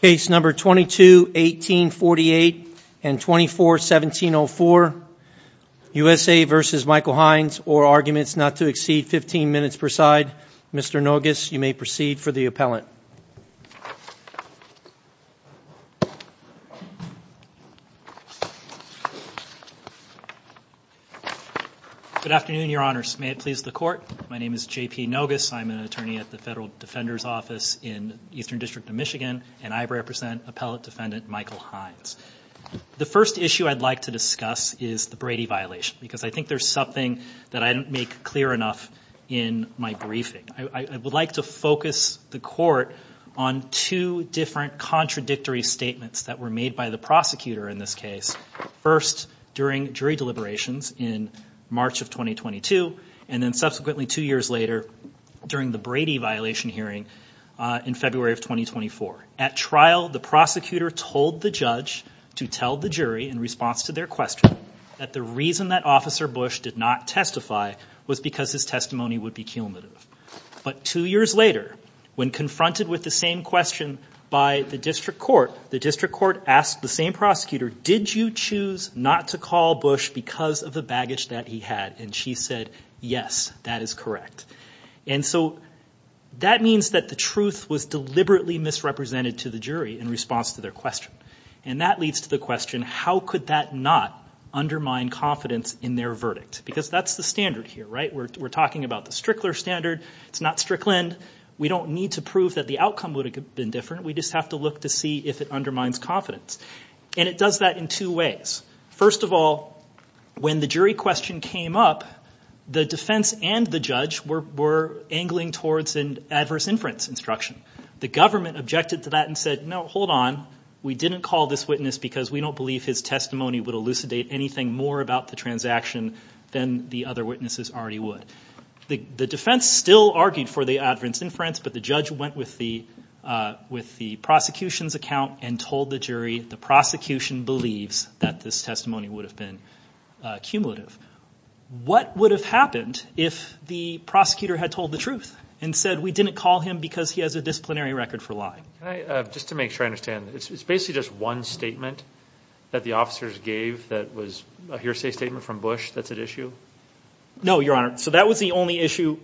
Case No. 22-1848 and 24-1704, USA v. Michael Hinds, or arguments not to exceed 15 minutes per side, Mr. Nogas, you may proceed for the appellant. Good afternoon, your honors. May it please the court. My name is J.P. Nogas. I'm an attorney at the Federal Defender's Office in the Eastern District of Michigan, and I represent Appellant Defendant Michael Hinds. The first issue I'd like to discuss is the Brady violation, because I think there's something that I didn't make clear enough in my briefing. I would like to focus the court on two different contradictory statements that were made by the prosecutor in this case, first during jury deliberations in March of 2022, and then subsequently two years later during the Brady violation hearing in February of 2024. At trial, the prosecutor told the judge to tell the jury, in response to their question, that the reason that Officer Bush did not testify was because his testimony would be cumulative. But two years later, when confronted with the same question by the district court, the district court asked the same prosecutor, did you choose not to call Bush because of the baggage that he had? And she said, yes, that is correct. And so that means that the truth was deliberately misrepresented to the jury in response to their question. And that leads to the question, how could that not undermine confidence in their verdict? Because that's the standard here, right? We're talking about the Strickler standard. It's not Strickland. We don't need to prove that the outcome would have been different. We just have to look to see if it undermines confidence. And it does that in two ways. First of all, when the jury question came up, the defense and the judge were angling towards an adverse inference instruction. The government objected to that and said, no, hold on. We didn't call this witness because we don't believe his testimony would elucidate anything more about the transaction than the other witnesses already would. The defense still argued for the adverse inference, but the judge went with the prosecution's account and told the jury the prosecution believes that this testimony would have been cumulative. What would have happened if the prosecutor had told the truth and said we didn't call him because he has a disciplinary record for lying? Just to make sure I understand, it's basically just one statement that the officers gave that was a hearsay statement from Bush that's at issue? No, Your Honor. So that was the only issue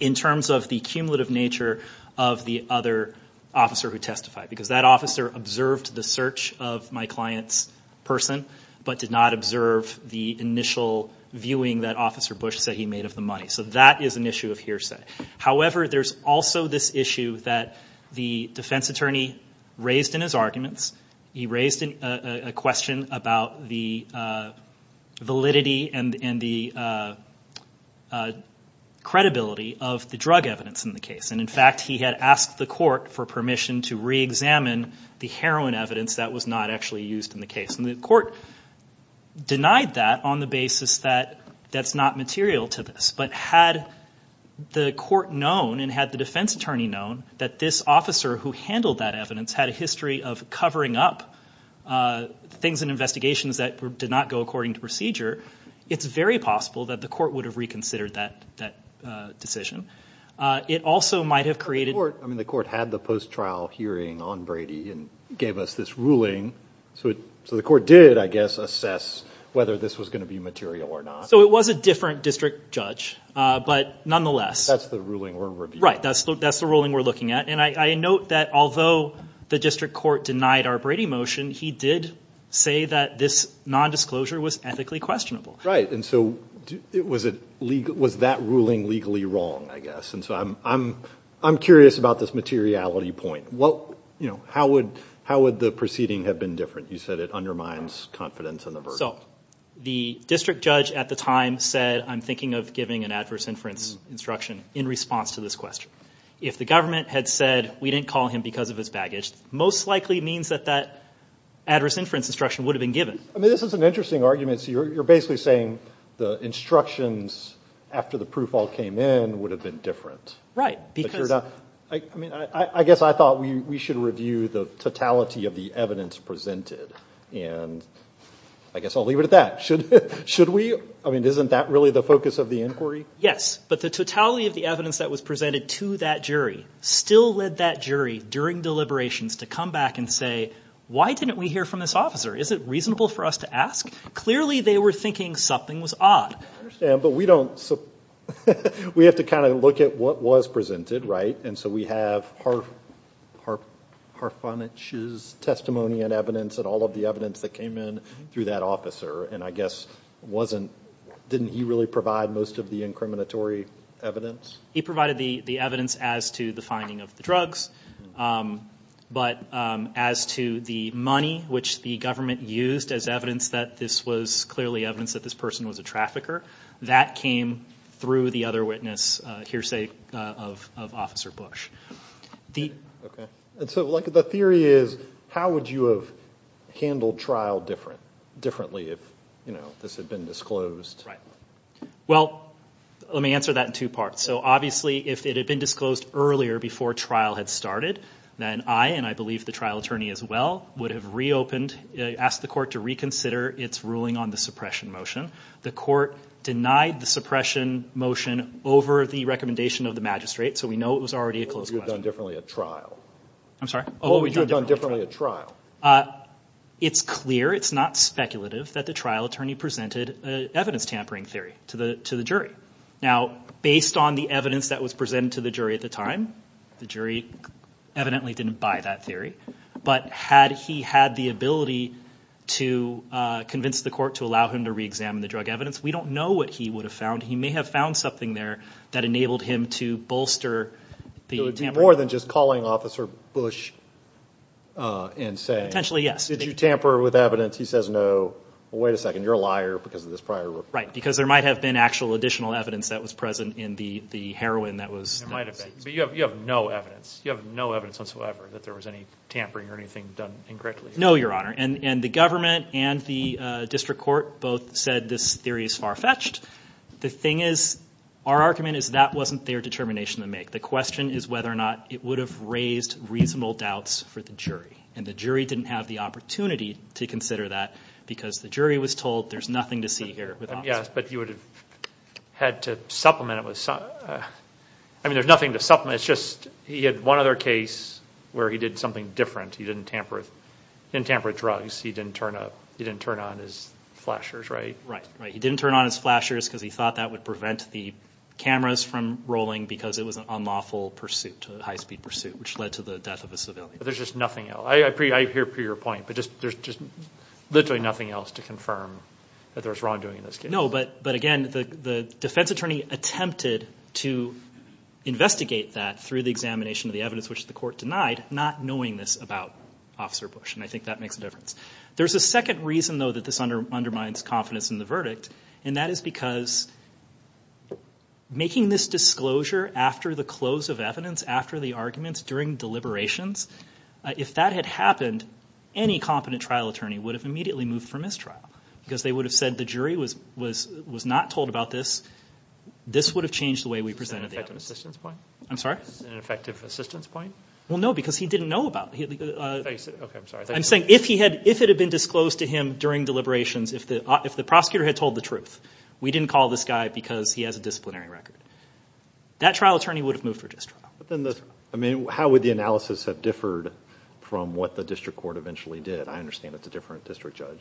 in terms of the cumulative nature of the other officer who testified. Because that officer observed the search of my client's person, but did not observe the initial viewing that Officer Bush said he made of the money. So that is an issue of hearsay. However, there's also this issue that the defense attorney raised in his arguments. He raised a question about the validity and the credibility of the drug evidence in the case. In fact, he had asked the court for permission to reexamine the heroin evidence that was not actually used in the case. The court denied that on the basis that that's not material to this. But had the court known and had the defense attorney known that this officer who handled that evidence had a history of covering up things and investigations that did not go according to procedure, it's very possible that the court would have reconsidered that decision. The court had the post-trial hearing on Brady and gave us this ruling. So the court did, I guess, assess whether this was going to be material or not. So it was a different district judge, but nonetheless. That's the ruling we're reviewing. Right, that's the ruling we're looking at. And I note that although the district court denied our Brady motion, he did say that this nondisclosure was ethically questionable. Right, and so was that ruling legally wrong, I guess? And so I'm curious about this materiality point. How would the proceeding have been different? You said it undermines confidence in the verdict. So the district judge at the time said, I'm thinking of giving an adverse inference instruction in response to this question. If the government had said, we didn't call him because of his baggage, it most likely means that that adverse inference instruction would have been given. This is an interesting argument. So you're basically saying the instructions after the proof all came in would have been different. I guess I thought we should review the totality of the evidence presented, and I guess I'll leave it at that. I mean, isn't that really the focus of the inquiry? Yes, but the totality of the evidence that was presented to that jury still led that jury during deliberations to come back and say, why didn't we hear from this officer? Is it reasonable for us to ask? Clearly they were thinking something was odd. I understand, but we have to kind of look at what was presented, right? And so we have Harfunich's testimony and evidence and all of the evidence that came in through that officer, and I guess didn't he really provide most of the incriminatory evidence? He provided the evidence as to the finding of the drugs, but as to the money, which the government used as evidence that this was clearly evidence that this person was a trafficker, that came through the other witness hearsay of Officer Bush. So the theory is, how would you have handled trial differently if this had been disclosed? Right. Well, let me answer that in two parts. So obviously if it had been disclosed earlier before trial had started, then I, and I believe the trial attorney as well, would have reopened, asked the court to reconsider its ruling on the suppression motion. The court denied the suppression motion over the recommendation of the magistrate. So we know it was already a closed question. What would you have done differently at trial? I'm sorry? What would you have done differently at trial? It's clear, it's not speculative, that the trial attorney presented evidence tampering theory to the jury. Now, based on the evidence that was presented to the jury at the time, the jury evidently didn't buy that theory, but had he had the ability to convince the court to allow him to reexamine the drug evidence, we don't know what he would have found. He may have found something there that enabled him to bolster the tampering. More than just calling Officer Bush insane. Potentially, yes. Did you tamper with evidence? He says no. Well, wait a second. You're a liar because of this prior report. Right. Because there might have been actual additional evidence that was present in the heroin that was. It might have been. But you have no evidence. You have no evidence whatsoever that there was any tampering or anything done incorrectly. No, Your Honor. And the government and the district court both said this theory is far-fetched. The thing is, our argument is that wasn't their determination to make. The question is whether or not it would have raised reasonable doubts for the jury. And the jury didn't have the opportunity to consider that because the jury was told there's nothing to see here. Yes, but you would have had to supplement it with something. I mean, there's nothing to supplement. It's just he had one other case where he did something different. He didn't tamper with drugs. He didn't turn on his flashers, right? Right. He didn't turn on his flashers because he thought that would prevent the cameras from rolling because it was an unlawful pursuit, a high-speed pursuit, which led to the death of a civilian. But there's just nothing else. I hear your point, but there's just literally nothing else to confirm that there was wrongdoing in this case. No, but, again, the defense attorney attempted to investigate that through the examination of the evidence, which the court denied, not knowing this about Officer Bush, and I think that makes a difference. There's a second reason, though, that this undermines confidence in the verdict, and that is because making this disclosure after the close of evidence, after the arguments, during deliberations, if that had happened, any competent trial attorney would have immediately moved for mistrial because they would have said the jury was not told about this. This would have changed the way we presented the evidence. Is that an effective assistance point? I'm sorry? Is that an effective assistance point? Well, no, because he didn't know about it. Okay, I'm sorry. I'm saying if it had been disclosed to him during deliberations, if the prosecutor had told the truth, we didn't call this guy because he has a disciplinary record. That trial attorney would have moved for distrial. I mean, how would the analysis have differed from what the district court eventually did? I understand it's a different district judge.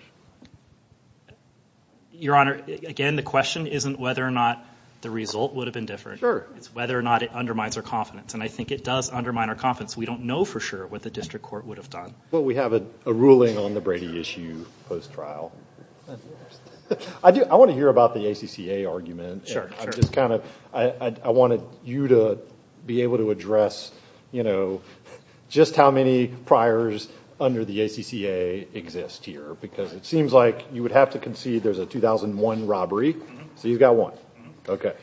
Your Honor, again, the question isn't whether or not the result would have been different. Sure. It's whether or not it undermines our confidence, and I think it does undermine our confidence. We don't know for sure what the district court would have done. Well, we have a ruling on the Brady issue post-trial. I want to hear about the ACCA argument. I just kind of wanted you to be able to address, you know, just how many priors under the ACCA exist here because it seems like you would have to concede there's a 2001 robbery, so you've got one. Okay.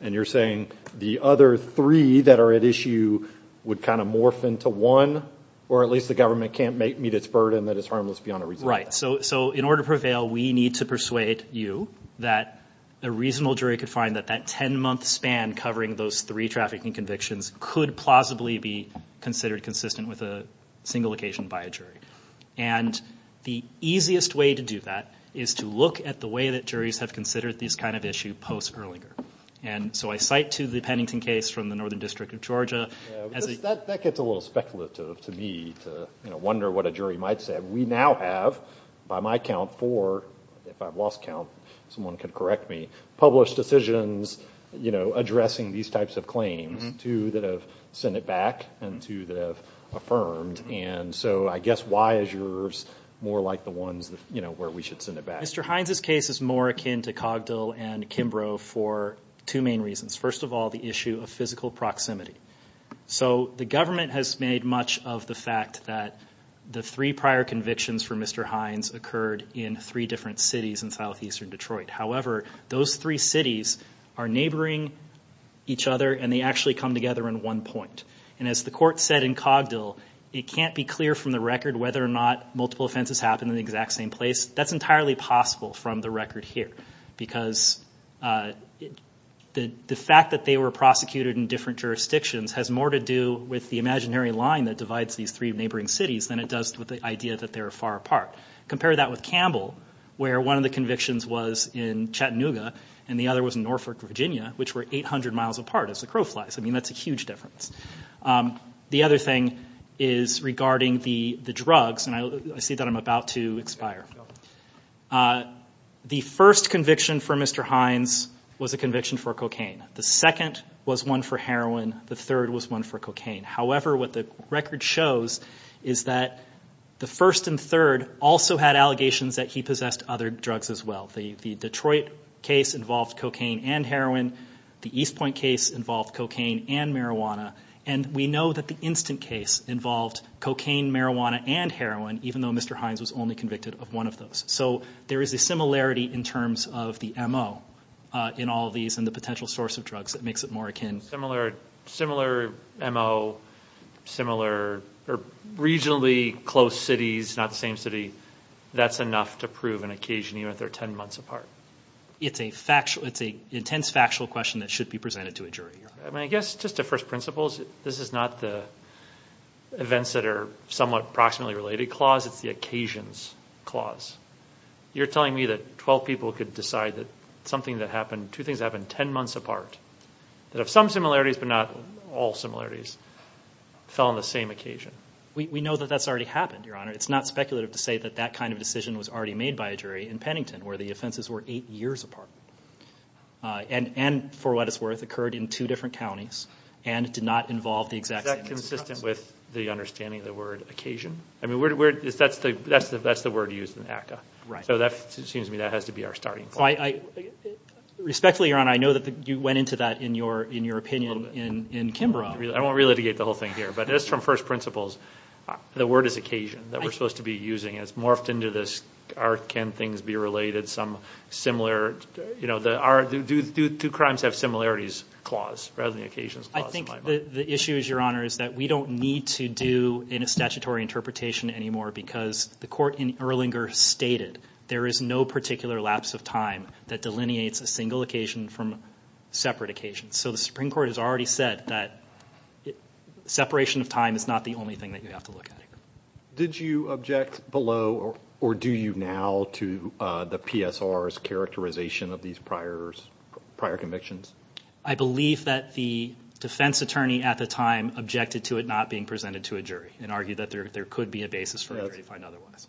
And you're saying the other three that are at issue would kind of morph into one or at least the government can't meet its burden that it's harmless beyond a reasonable time. Right. So in order to prevail, we need to persuade you that a reasonable jury could find that that 10-month span covering those three trafficking convictions could plausibly be considered consistent with a single occasion by a jury. And the easiest way to do that is to look at the way that juries have considered these kind of issues post-Erlinger. And so I cite to the Pennington case from the Northern District of Georgia. That gets a little speculative to me to, you know, wonder what a jury might say. We now have, by my count, four, if I've lost count, someone can correct me, published decisions, you know, addressing these types of claims, two that have sent it back and two that have affirmed. And so I guess why is yours more like the ones, you know, where we should send it back? Mr. Hines' case is more akin to Cogdill and Kimbrough for two main reasons. First of all, the issue of physical proximity. So the government has made much of the fact that the three prior convictions for Mr. Hines occurred in three different cities in southeastern Detroit. However, those three cities are neighboring each other and they actually come together in one point. And as the court said in Cogdill, it can't be clear from the record whether or not multiple offenses happened in the exact same place. That's entirely possible from the record here because the fact that they were prosecuted in different jurisdictions has more to do with the imaginary line that divides these three neighboring cities than it does with the idea that they're far apart. Compare that with Campbell where one of the convictions was in Chattanooga and the other was in Norfolk, Virginia, which were 800 miles apart as the crow flies. I mean, that's a huge difference. The other thing is regarding the drugs, and I see that I'm about to expire. The first conviction for Mr. Hines was a conviction for cocaine. The second was one for heroin. The third was one for cocaine. However, what the record shows is that the first and third also had allegations that he possessed other drugs as well. The Detroit case involved cocaine and heroin. The East Point case involved cocaine and marijuana, and we know that the Instant case involved cocaine, marijuana, and heroin, even though Mr. Hines was only convicted of one of those. So there is a similarity in terms of the MO in all of these and the potential source of drugs that makes it more akin. Similar MO, similarly close cities, not the same city. That's enough to prove an occasion even if they're 10 months apart. It's an intense factual question that should be presented to a jury. I guess just to first principles, this is not the events that are somewhat proximately related clause. It's the occasions clause. You're telling me that 12 people could decide that something that happened, two things that happened 10 months apart, that have some similarities but not all similarities, fell on the same occasion. We know that that's already happened, Your Honor. It's not speculative to say that that kind of decision was already made by a jury in Pennington where the offenses were eight years apart and, for what it's worth, occurred in two different counties and did not involve the exact same instance. Is that consistent with the understanding of the word occasion? I mean, that's the word used in ACCA. So that seems to me that has to be our starting point. Respectfully, Your Honor, I know that you went into that in your opinion in Kimbrough. I won't relitigate the whole thing here, but just from first principles, the word is occasion that we're supposed to be using. It's morphed into this can things be related, some similar, you know, do crimes have similarities clause rather than occasions clause? I think the issue is, Your Honor, is that we don't need to do in a statutory interpretation anymore because the court in Erlinger stated there is no particular lapse of time that delineates a single occasion from separate occasions. So the Supreme Court has already said that separation of time is not the only thing that you have to look at. Did you object below or do you now to the PSR's characterization of these prior convictions? I believe that the defense attorney at the time objected to it not being presented to a jury and argued that there could be a basis for a jury to find otherwise.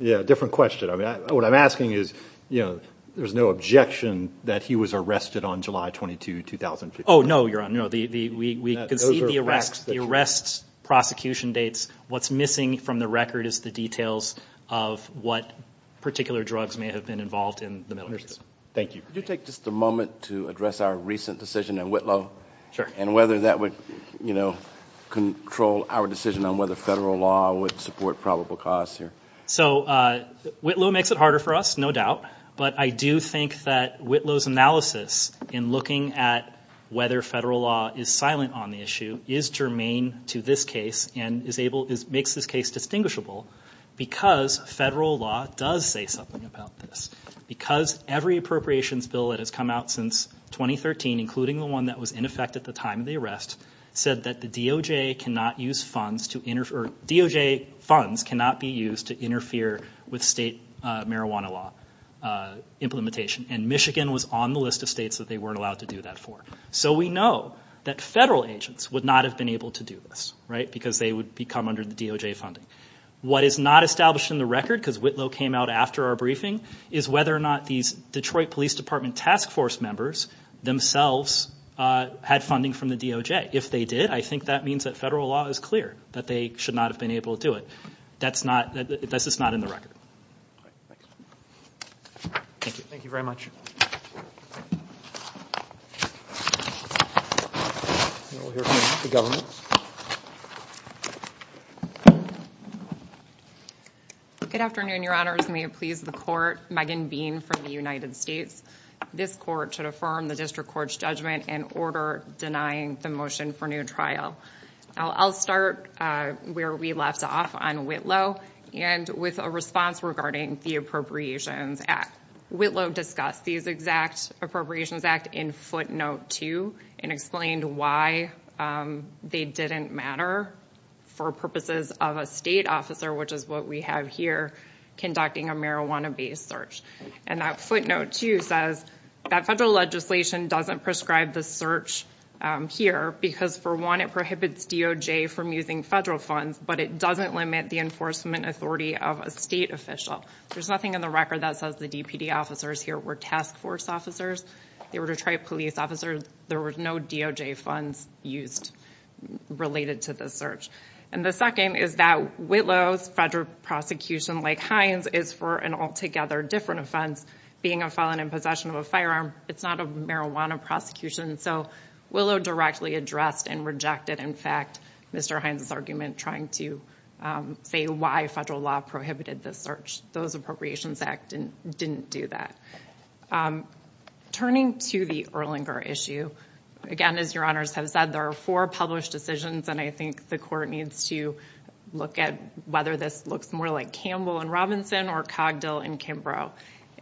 Yeah, different question. What I'm asking is, you know, there's no objection that he was arrested on July 22, 2015. Oh, no, Your Honor. We can see the arrest prosecution dates. What's missing from the record is the details of what particular drugs may have been involved in the military. Thank you. Could you take just a moment to address our recent decision in Whitlow and whether that would, you know, control our decision on whether federal law would support probable cause here? So Whitlow makes it harder for us, no doubt. But I do think that Whitlow's analysis in looking at whether federal law is silent on the issue is germane to this case and makes this case distinguishable because federal law does say something about this. Because every appropriations bill that has come out since 2013, including the one that was in effect at the time of the arrest, said that the DOJ funds cannot be used to interfere with state marijuana law implementation. And Michigan was on the list of states that they weren't allowed to do that for. So we know that federal agents would not have been able to do this, right, because they would become under the DOJ funding. What is not established in the record, because Whitlow came out after our briefing, is whether or not these Detroit Police Department task force members themselves had funding from the DOJ. If they did, I think that means that federal law is clear, that they should not have been able to do it. That's not, that's just not in the record. Thank you. Thank you very much. We'll hear from the Governor. Good afternoon, Your Honors. May it please the Court, Megan Bean from the United States. This Court should affirm the District Court's judgment in order denying the motion for new trial. I'll start where we left off on Whitlow and with a response regarding the Appropriations Act. Whitlow discussed these exact Appropriations Act in footnote two and explained why they didn't matter for purposes of a state officer, which is what we have here conducting a marijuana-based search. And that footnote two says that federal legislation doesn't prescribe the search here because, for one, it prohibits DOJ from using federal funds, but it doesn't limit the enforcement authority of a state official. There's nothing in the record that says the DPD officers here were task force officers. They were Detroit police officers. There were no DOJ funds used related to this search. And the second is that Whitlow's federal prosecution, like Hines', is for an altogether different offense, being a felon in possession of a firearm. It's not a marijuana prosecution. So Whitlow directly addressed and rejected, in fact, Mr. Hines' argument, trying to say why federal law prohibited the search. Those Appropriations Act didn't do that. Turning to the Erlanger issue, again, as your honors have said, there are four published decisions, and I think the court needs to look at whether this looks more like Campbell and Robinson or Cogdill and Kimbrough.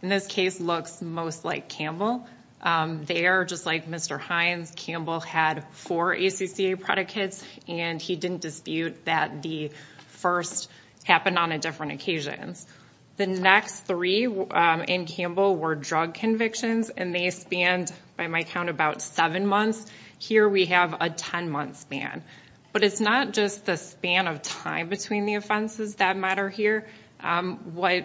In this case, it looks most like Campbell. There, just like Mr. Hines, Campbell had four ACCA predicates, and he didn't dispute that the first happened on a different occasion. The next three in Campbell were drug convictions, and they spanned, by my count, about seven months. Here we have a 10-month span. But it's not just the span of time between the offenses that matter here. What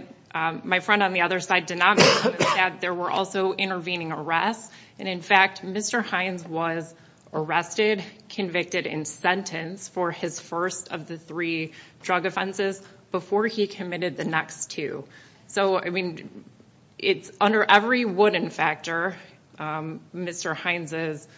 my friend on the other side did not include is that there were also intervening arrests. And, in fact, Mr. Hines was arrested, convicted, and sentenced for his first of the three drug offenses before he committed the next two. So, I mean, it's under every wooden factor Mr. Hines'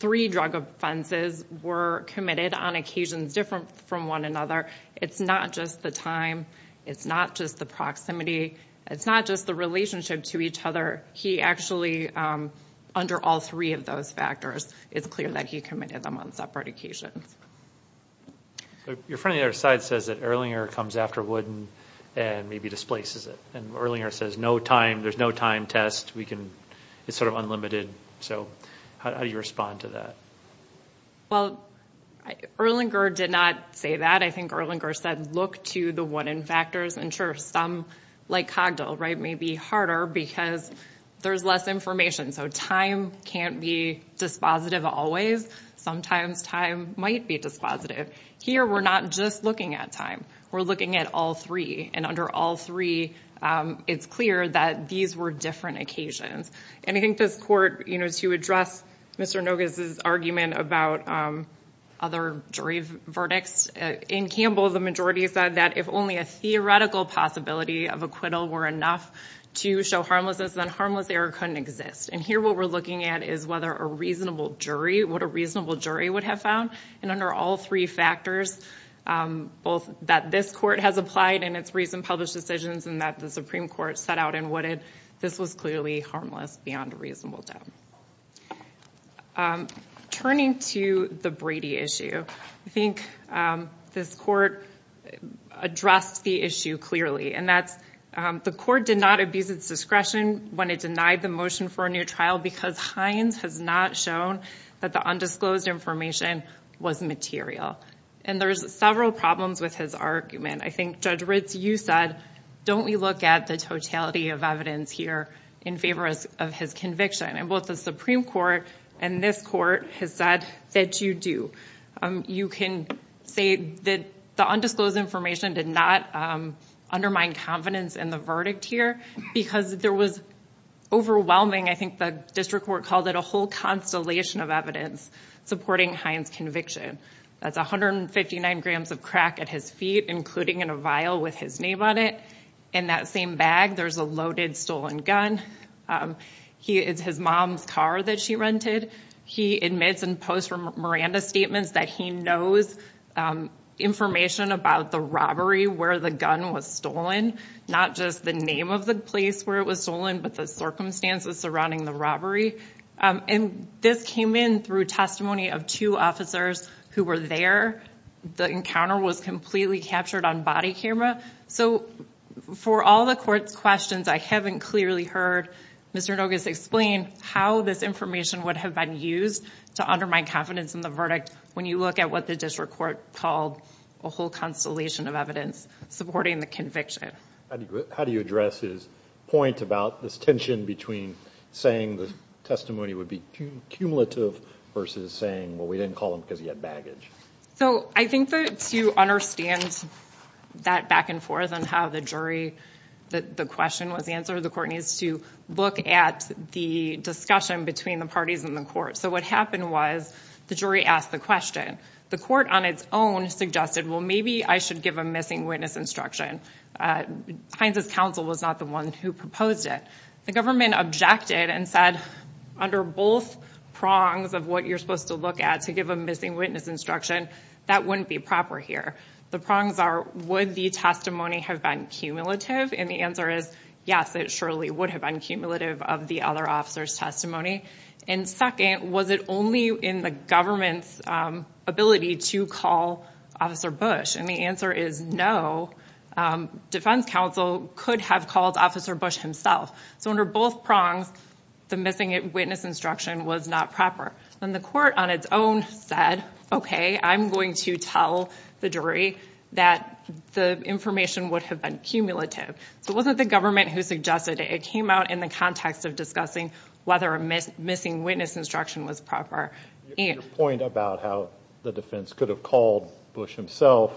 three drug offenses were committed on occasions different from one another. It's not just the time. It's not just the proximity. It's not just the relationship to each other. He actually, under all three of those factors, it's clear that he committed them on separate occasions. Your friend on the other side says that Erlinger comes after wooden and maybe displaces it. And Erlinger says there's no time test. It's sort of unlimited. So how do you respond to that? Well, Erlinger did not say that. I think Erlinger said look to the wooden factors. And, sure, some, like Cogdill, right, may be harder because there's less information. So time can't be dispositive always. Sometimes time might be dispositive. Here we're not just looking at time. We're looking at all three. And under all three it's clear that these were different occasions. And I think this court, you know, to address Mr. Noges' argument about other jury verdicts, in Campbell the majority said that if only a theoretical possibility of acquittal were enough to show harmlessness, then harmless error couldn't exist. And here what we're looking at is whether a reasonable jury, what a reasonable jury would have found. And under all three factors, both that this court has applied in its recent published decisions and that the Supreme Court set out in Wooded, this was clearly harmless beyond a reasonable doubt. Turning to the Brady issue, I think this court addressed the issue clearly. And that's the court did not abuse its discretion when it denied the motion for a new trial because Hines has not shown that the undisclosed information was material. And there's several problems with his argument. I think, Judge Ritz, you said don't we look at the totality of evidence here in favor of his conviction. And both the Supreme Court and this court has said that you do. You can say that the undisclosed information did not undermine confidence in the verdict here because there was overwhelming, I think the district court called it a whole constellation of evidence, supporting Hines' conviction. That's 159 grams of crack at his feet, including in a vial with his name on it. In that same bag there's a loaded stolen gun. It's his mom's car that she rented. He admits in post-Miranda statements that he knows information about the robbery where the gun was stolen. Not just the name of the place where it was stolen, but the circumstances surrounding the robbery. And this came in through testimony of two officers who were there. The encounter was completely captured on body camera. So for all the court's questions, I haven't clearly heard Mr. Noges explain how this information would have been used to undermine confidence in the verdict when you look at what the district court called a whole constellation of evidence supporting the conviction. How do you address his point about this tension between saying the testimony would be cumulative versus saying, well, we didn't call him because he had baggage? So I think that to understand that back and forth on how the jury, the question was answered, the court needs to look at the discussion between the parties in the court. So what happened was the jury asked the question. The court on its own suggested, well, maybe I should give a missing witness instruction. Hines' counsel was not the one who proposed it. The government objected and said, under both prongs of what you're supposed to look at to give a missing witness instruction, that wouldn't be proper here. The prongs are, would the testimony have been cumulative? And the answer is, yes, it surely would have been cumulative of the other officer's testimony. And second, was it only in the government's ability to call Officer Bush? And the answer is no, defense counsel could have called Officer Bush himself. So under both prongs, the missing witness instruction was not proper. And the court on its own said, okay, I'm going to tell the jury that the information would have been cumulative. So it wasn't the government who suggested it. It came out in the context of discussing whether a missing witness instruction was proper. Your point about how the defense could have called Bush himself,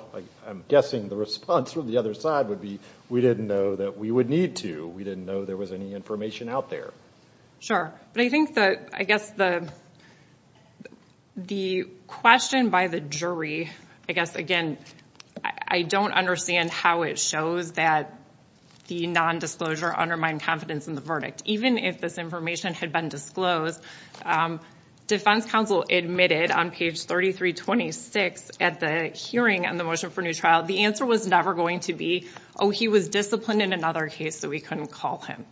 I'm guessing the response from the other side would be, we didn't know that we would need to. We didn't know there was any information out there. Sure, but I guess the question by the jury, I guess, again, I don't understand how it shows that the nondisclosure undermined confidence in the verdict. Even if this information had been disclosed, defense counsel admitted on page 3326 at the hearing on the motion for new trial, the answer was never going to be, oh, he was disciplined in another case, so we couldn't call him.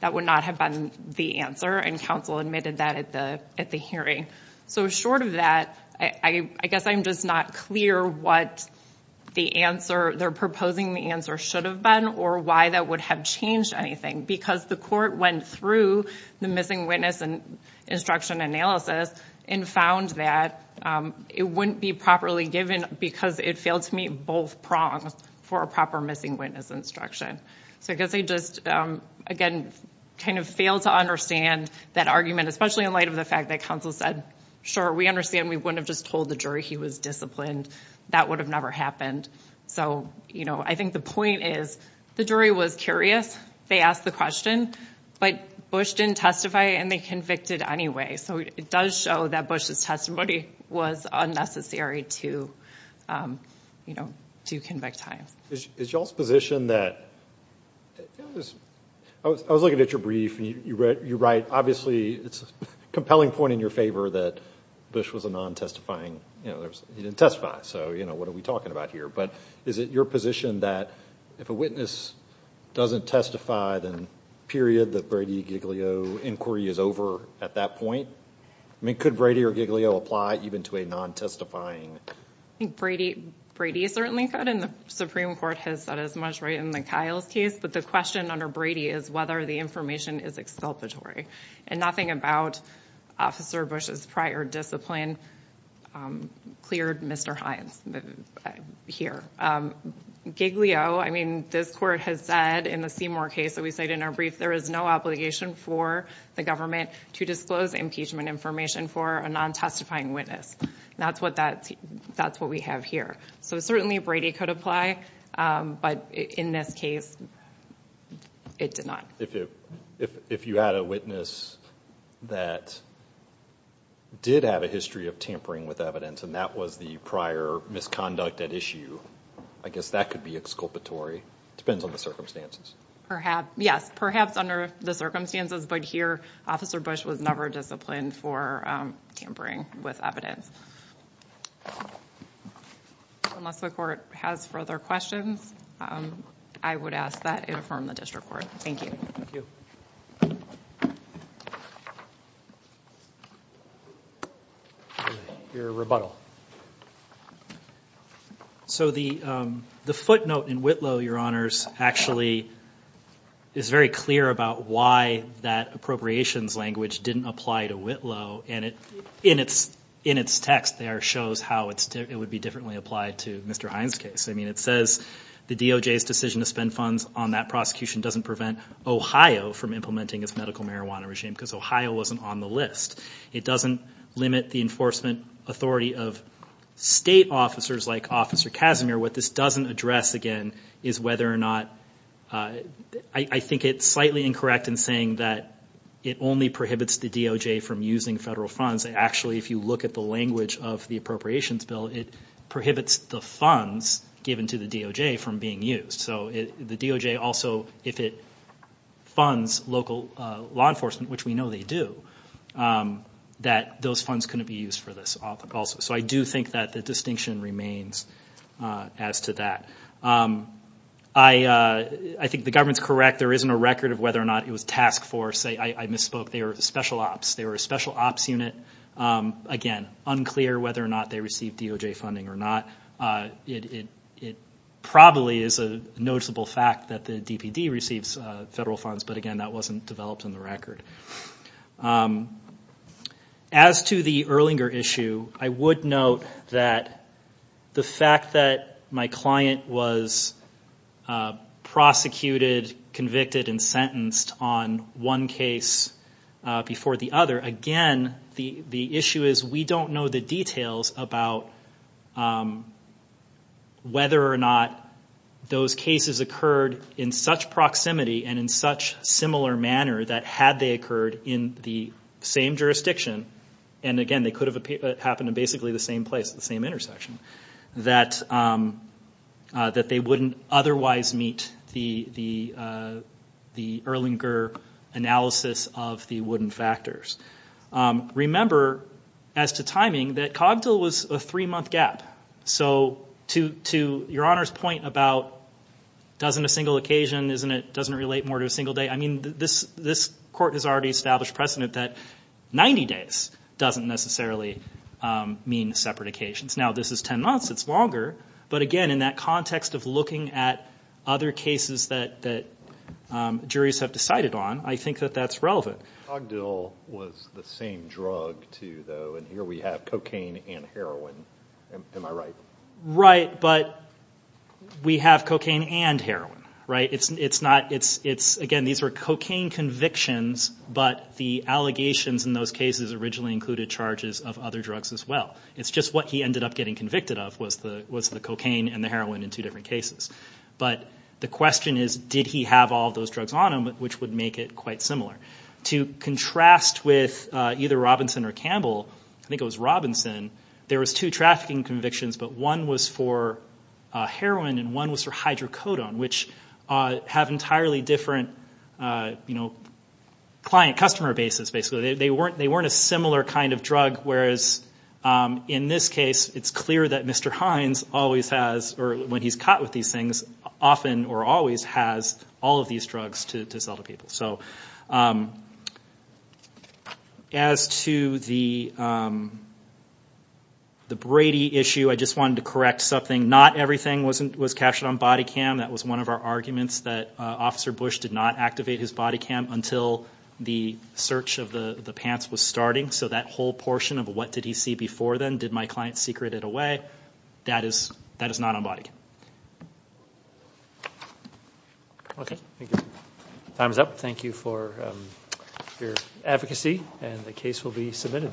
That would not have been the answer, and counsel admitted that at the hearing. So short of that, I guess I'm just not clear what the answer, they're proposing the answer should have been or why that would have changed anything. Because the court went through the missing witness instruction analysis and found that it wouldn't be properly given because it failed to meet both prongs for a proper missing witness instruction. So I guess I just, again, kind of failed to understand that argument, especially in light of the fact that counsel said, sure, we understand we wouldn't have just told the jury he was disciplined. That would have never happened. So, you know, I think the point is the jury was curious. They asked the question, but Bush didn't testify and they convicted anyway. So it does show that Bush's testimony was unnecessary to, you know, to convict Hines. Is y'all's position that, I was looking at your brief and you write, obviously it's a compelling point in your favor that Bush was a non-testifying, you know, he didn't testify. So, you know, what are we talking about here? But is it your position that if a witness doesn't testify, then period, the Brady-Giglio inquiry is over at that point? I mean, could Brady or Giglio apply even to a non-testifying? I think Brady certainly could, and the Supreme Court has said as much, right, in the Kiles case. But the question under Brady is whether the information is exculpatory. And nothing about Officer Bush's prior discipline cleared Mr. Hines here. Giglio, I mean, this court has said in the Seymour case that we cite in our brief, there is no obligation for the government to disclose impeachment information for a non-testifying witness. That's what we have here. So certainly Brady could apply, but in this case, it did not. If you had a witness that did have a history of tampering with evidence, and that was the prior misconduct at issue, I guess that could be exculpatory. It depends on the circumstances. Yes, perhaps under the circumstances, but here Officer Bush was never disciplined for tampering with evidence. Unless the court has further questions, I would ask that it affirm the district court. Thank you. Your rebuttal. So the footnote in Whitlow, Your Honors, actually is very clear about why that appropriations language didn't apply to Whitlow. And in its text there shows how it would be differently applied to Mr. Hines' case. I mean, it says the DOJ's decision to spend funds on that prosecution doesn't prevent Ohio from implementing its medical marijuana regime because Ohio wasn't on the list. It doesn't limit the enforcement authority of state officers like Officer Casimir. What this doesn't address, again, is whether or not – I think it's slightly incorrect in saying that it only prohibits the DOJ from using federal funds. Actually, if you look at the language of the appropriations bill, it prohibits the funds given to the DOJ from being used. So the DOJ also, if it funds local law enforcement, which we know they do, that those funds couldn't be used for this also. So I do think that the distinction remains as to that. I think the government's correct. There isn't a record of whether or not it was tasked for. Say I misspoke. They were special ops. They were a special ops unit. Again, unclear whether or not they received DOJ funding or not. It probably is a noticeable fact that the DPD receives federal funds, but again, that wasn't developed in the record. As to the Erlinger issue, I would note that the fact that my client was prosecuted, convicted, and sentenced on one case before the other, again, the issue is we don't know the details about whether or not those cases occurred in such proximity and in such similar manner that had they occurred in the same jurisdiction, and again, they could have happened in basically the same place, the same intersection, that they wouldn't otherwise meet the Erlinger analysis of the wooden factors. Remember, as to timing, that Cogdill was a three-month gap, so to Your Honor's point about doesn't a single occasion, doesn't it relate more to a single day, I mean this court has already established precedent that 90 days doesn't necessarily mean separate occasions. Now, this is 10 months. It's longer, but again, in that context of looking at other cases that juries have decided on, I think that that's relevant. Cogdill was the same drug, too, though, and here we have cocaine and heroin. Am I right? Right, but we have cocaine and heroin, right? It's not, again, these are cocaine convictions, but the allegations in those cases originally included charges of other drugs as well. It's just what he ended up getting convicted of was the cocaine and the heroin in two different cases, but the question is did he have all those drugs on him, which would make it quite similar. To contrast with either Robinson or Campbell, I think it was Robinson, there was two trafficking convictions, but one was for heroin and one was for hydrocodone, which have entirely different client-customer bases, basically. They weren't a similar kind of drug, whereas in this case it's clear that Mr. Hines always has, or when he's caught with these things, often or always has all of these drugs to sell to people. As to the Brady issue, I just wanted to correct something. Not everything was captured on body cam. That was one of our arguments, that Officer Bush did not activate his body cam until the search of the pants was starting, so that whole portion of what did he see before then, did my client secret it away, that is not on body cam. Okay, thank you. Time is up. Thank you for your advocacy, and the case will be submitted.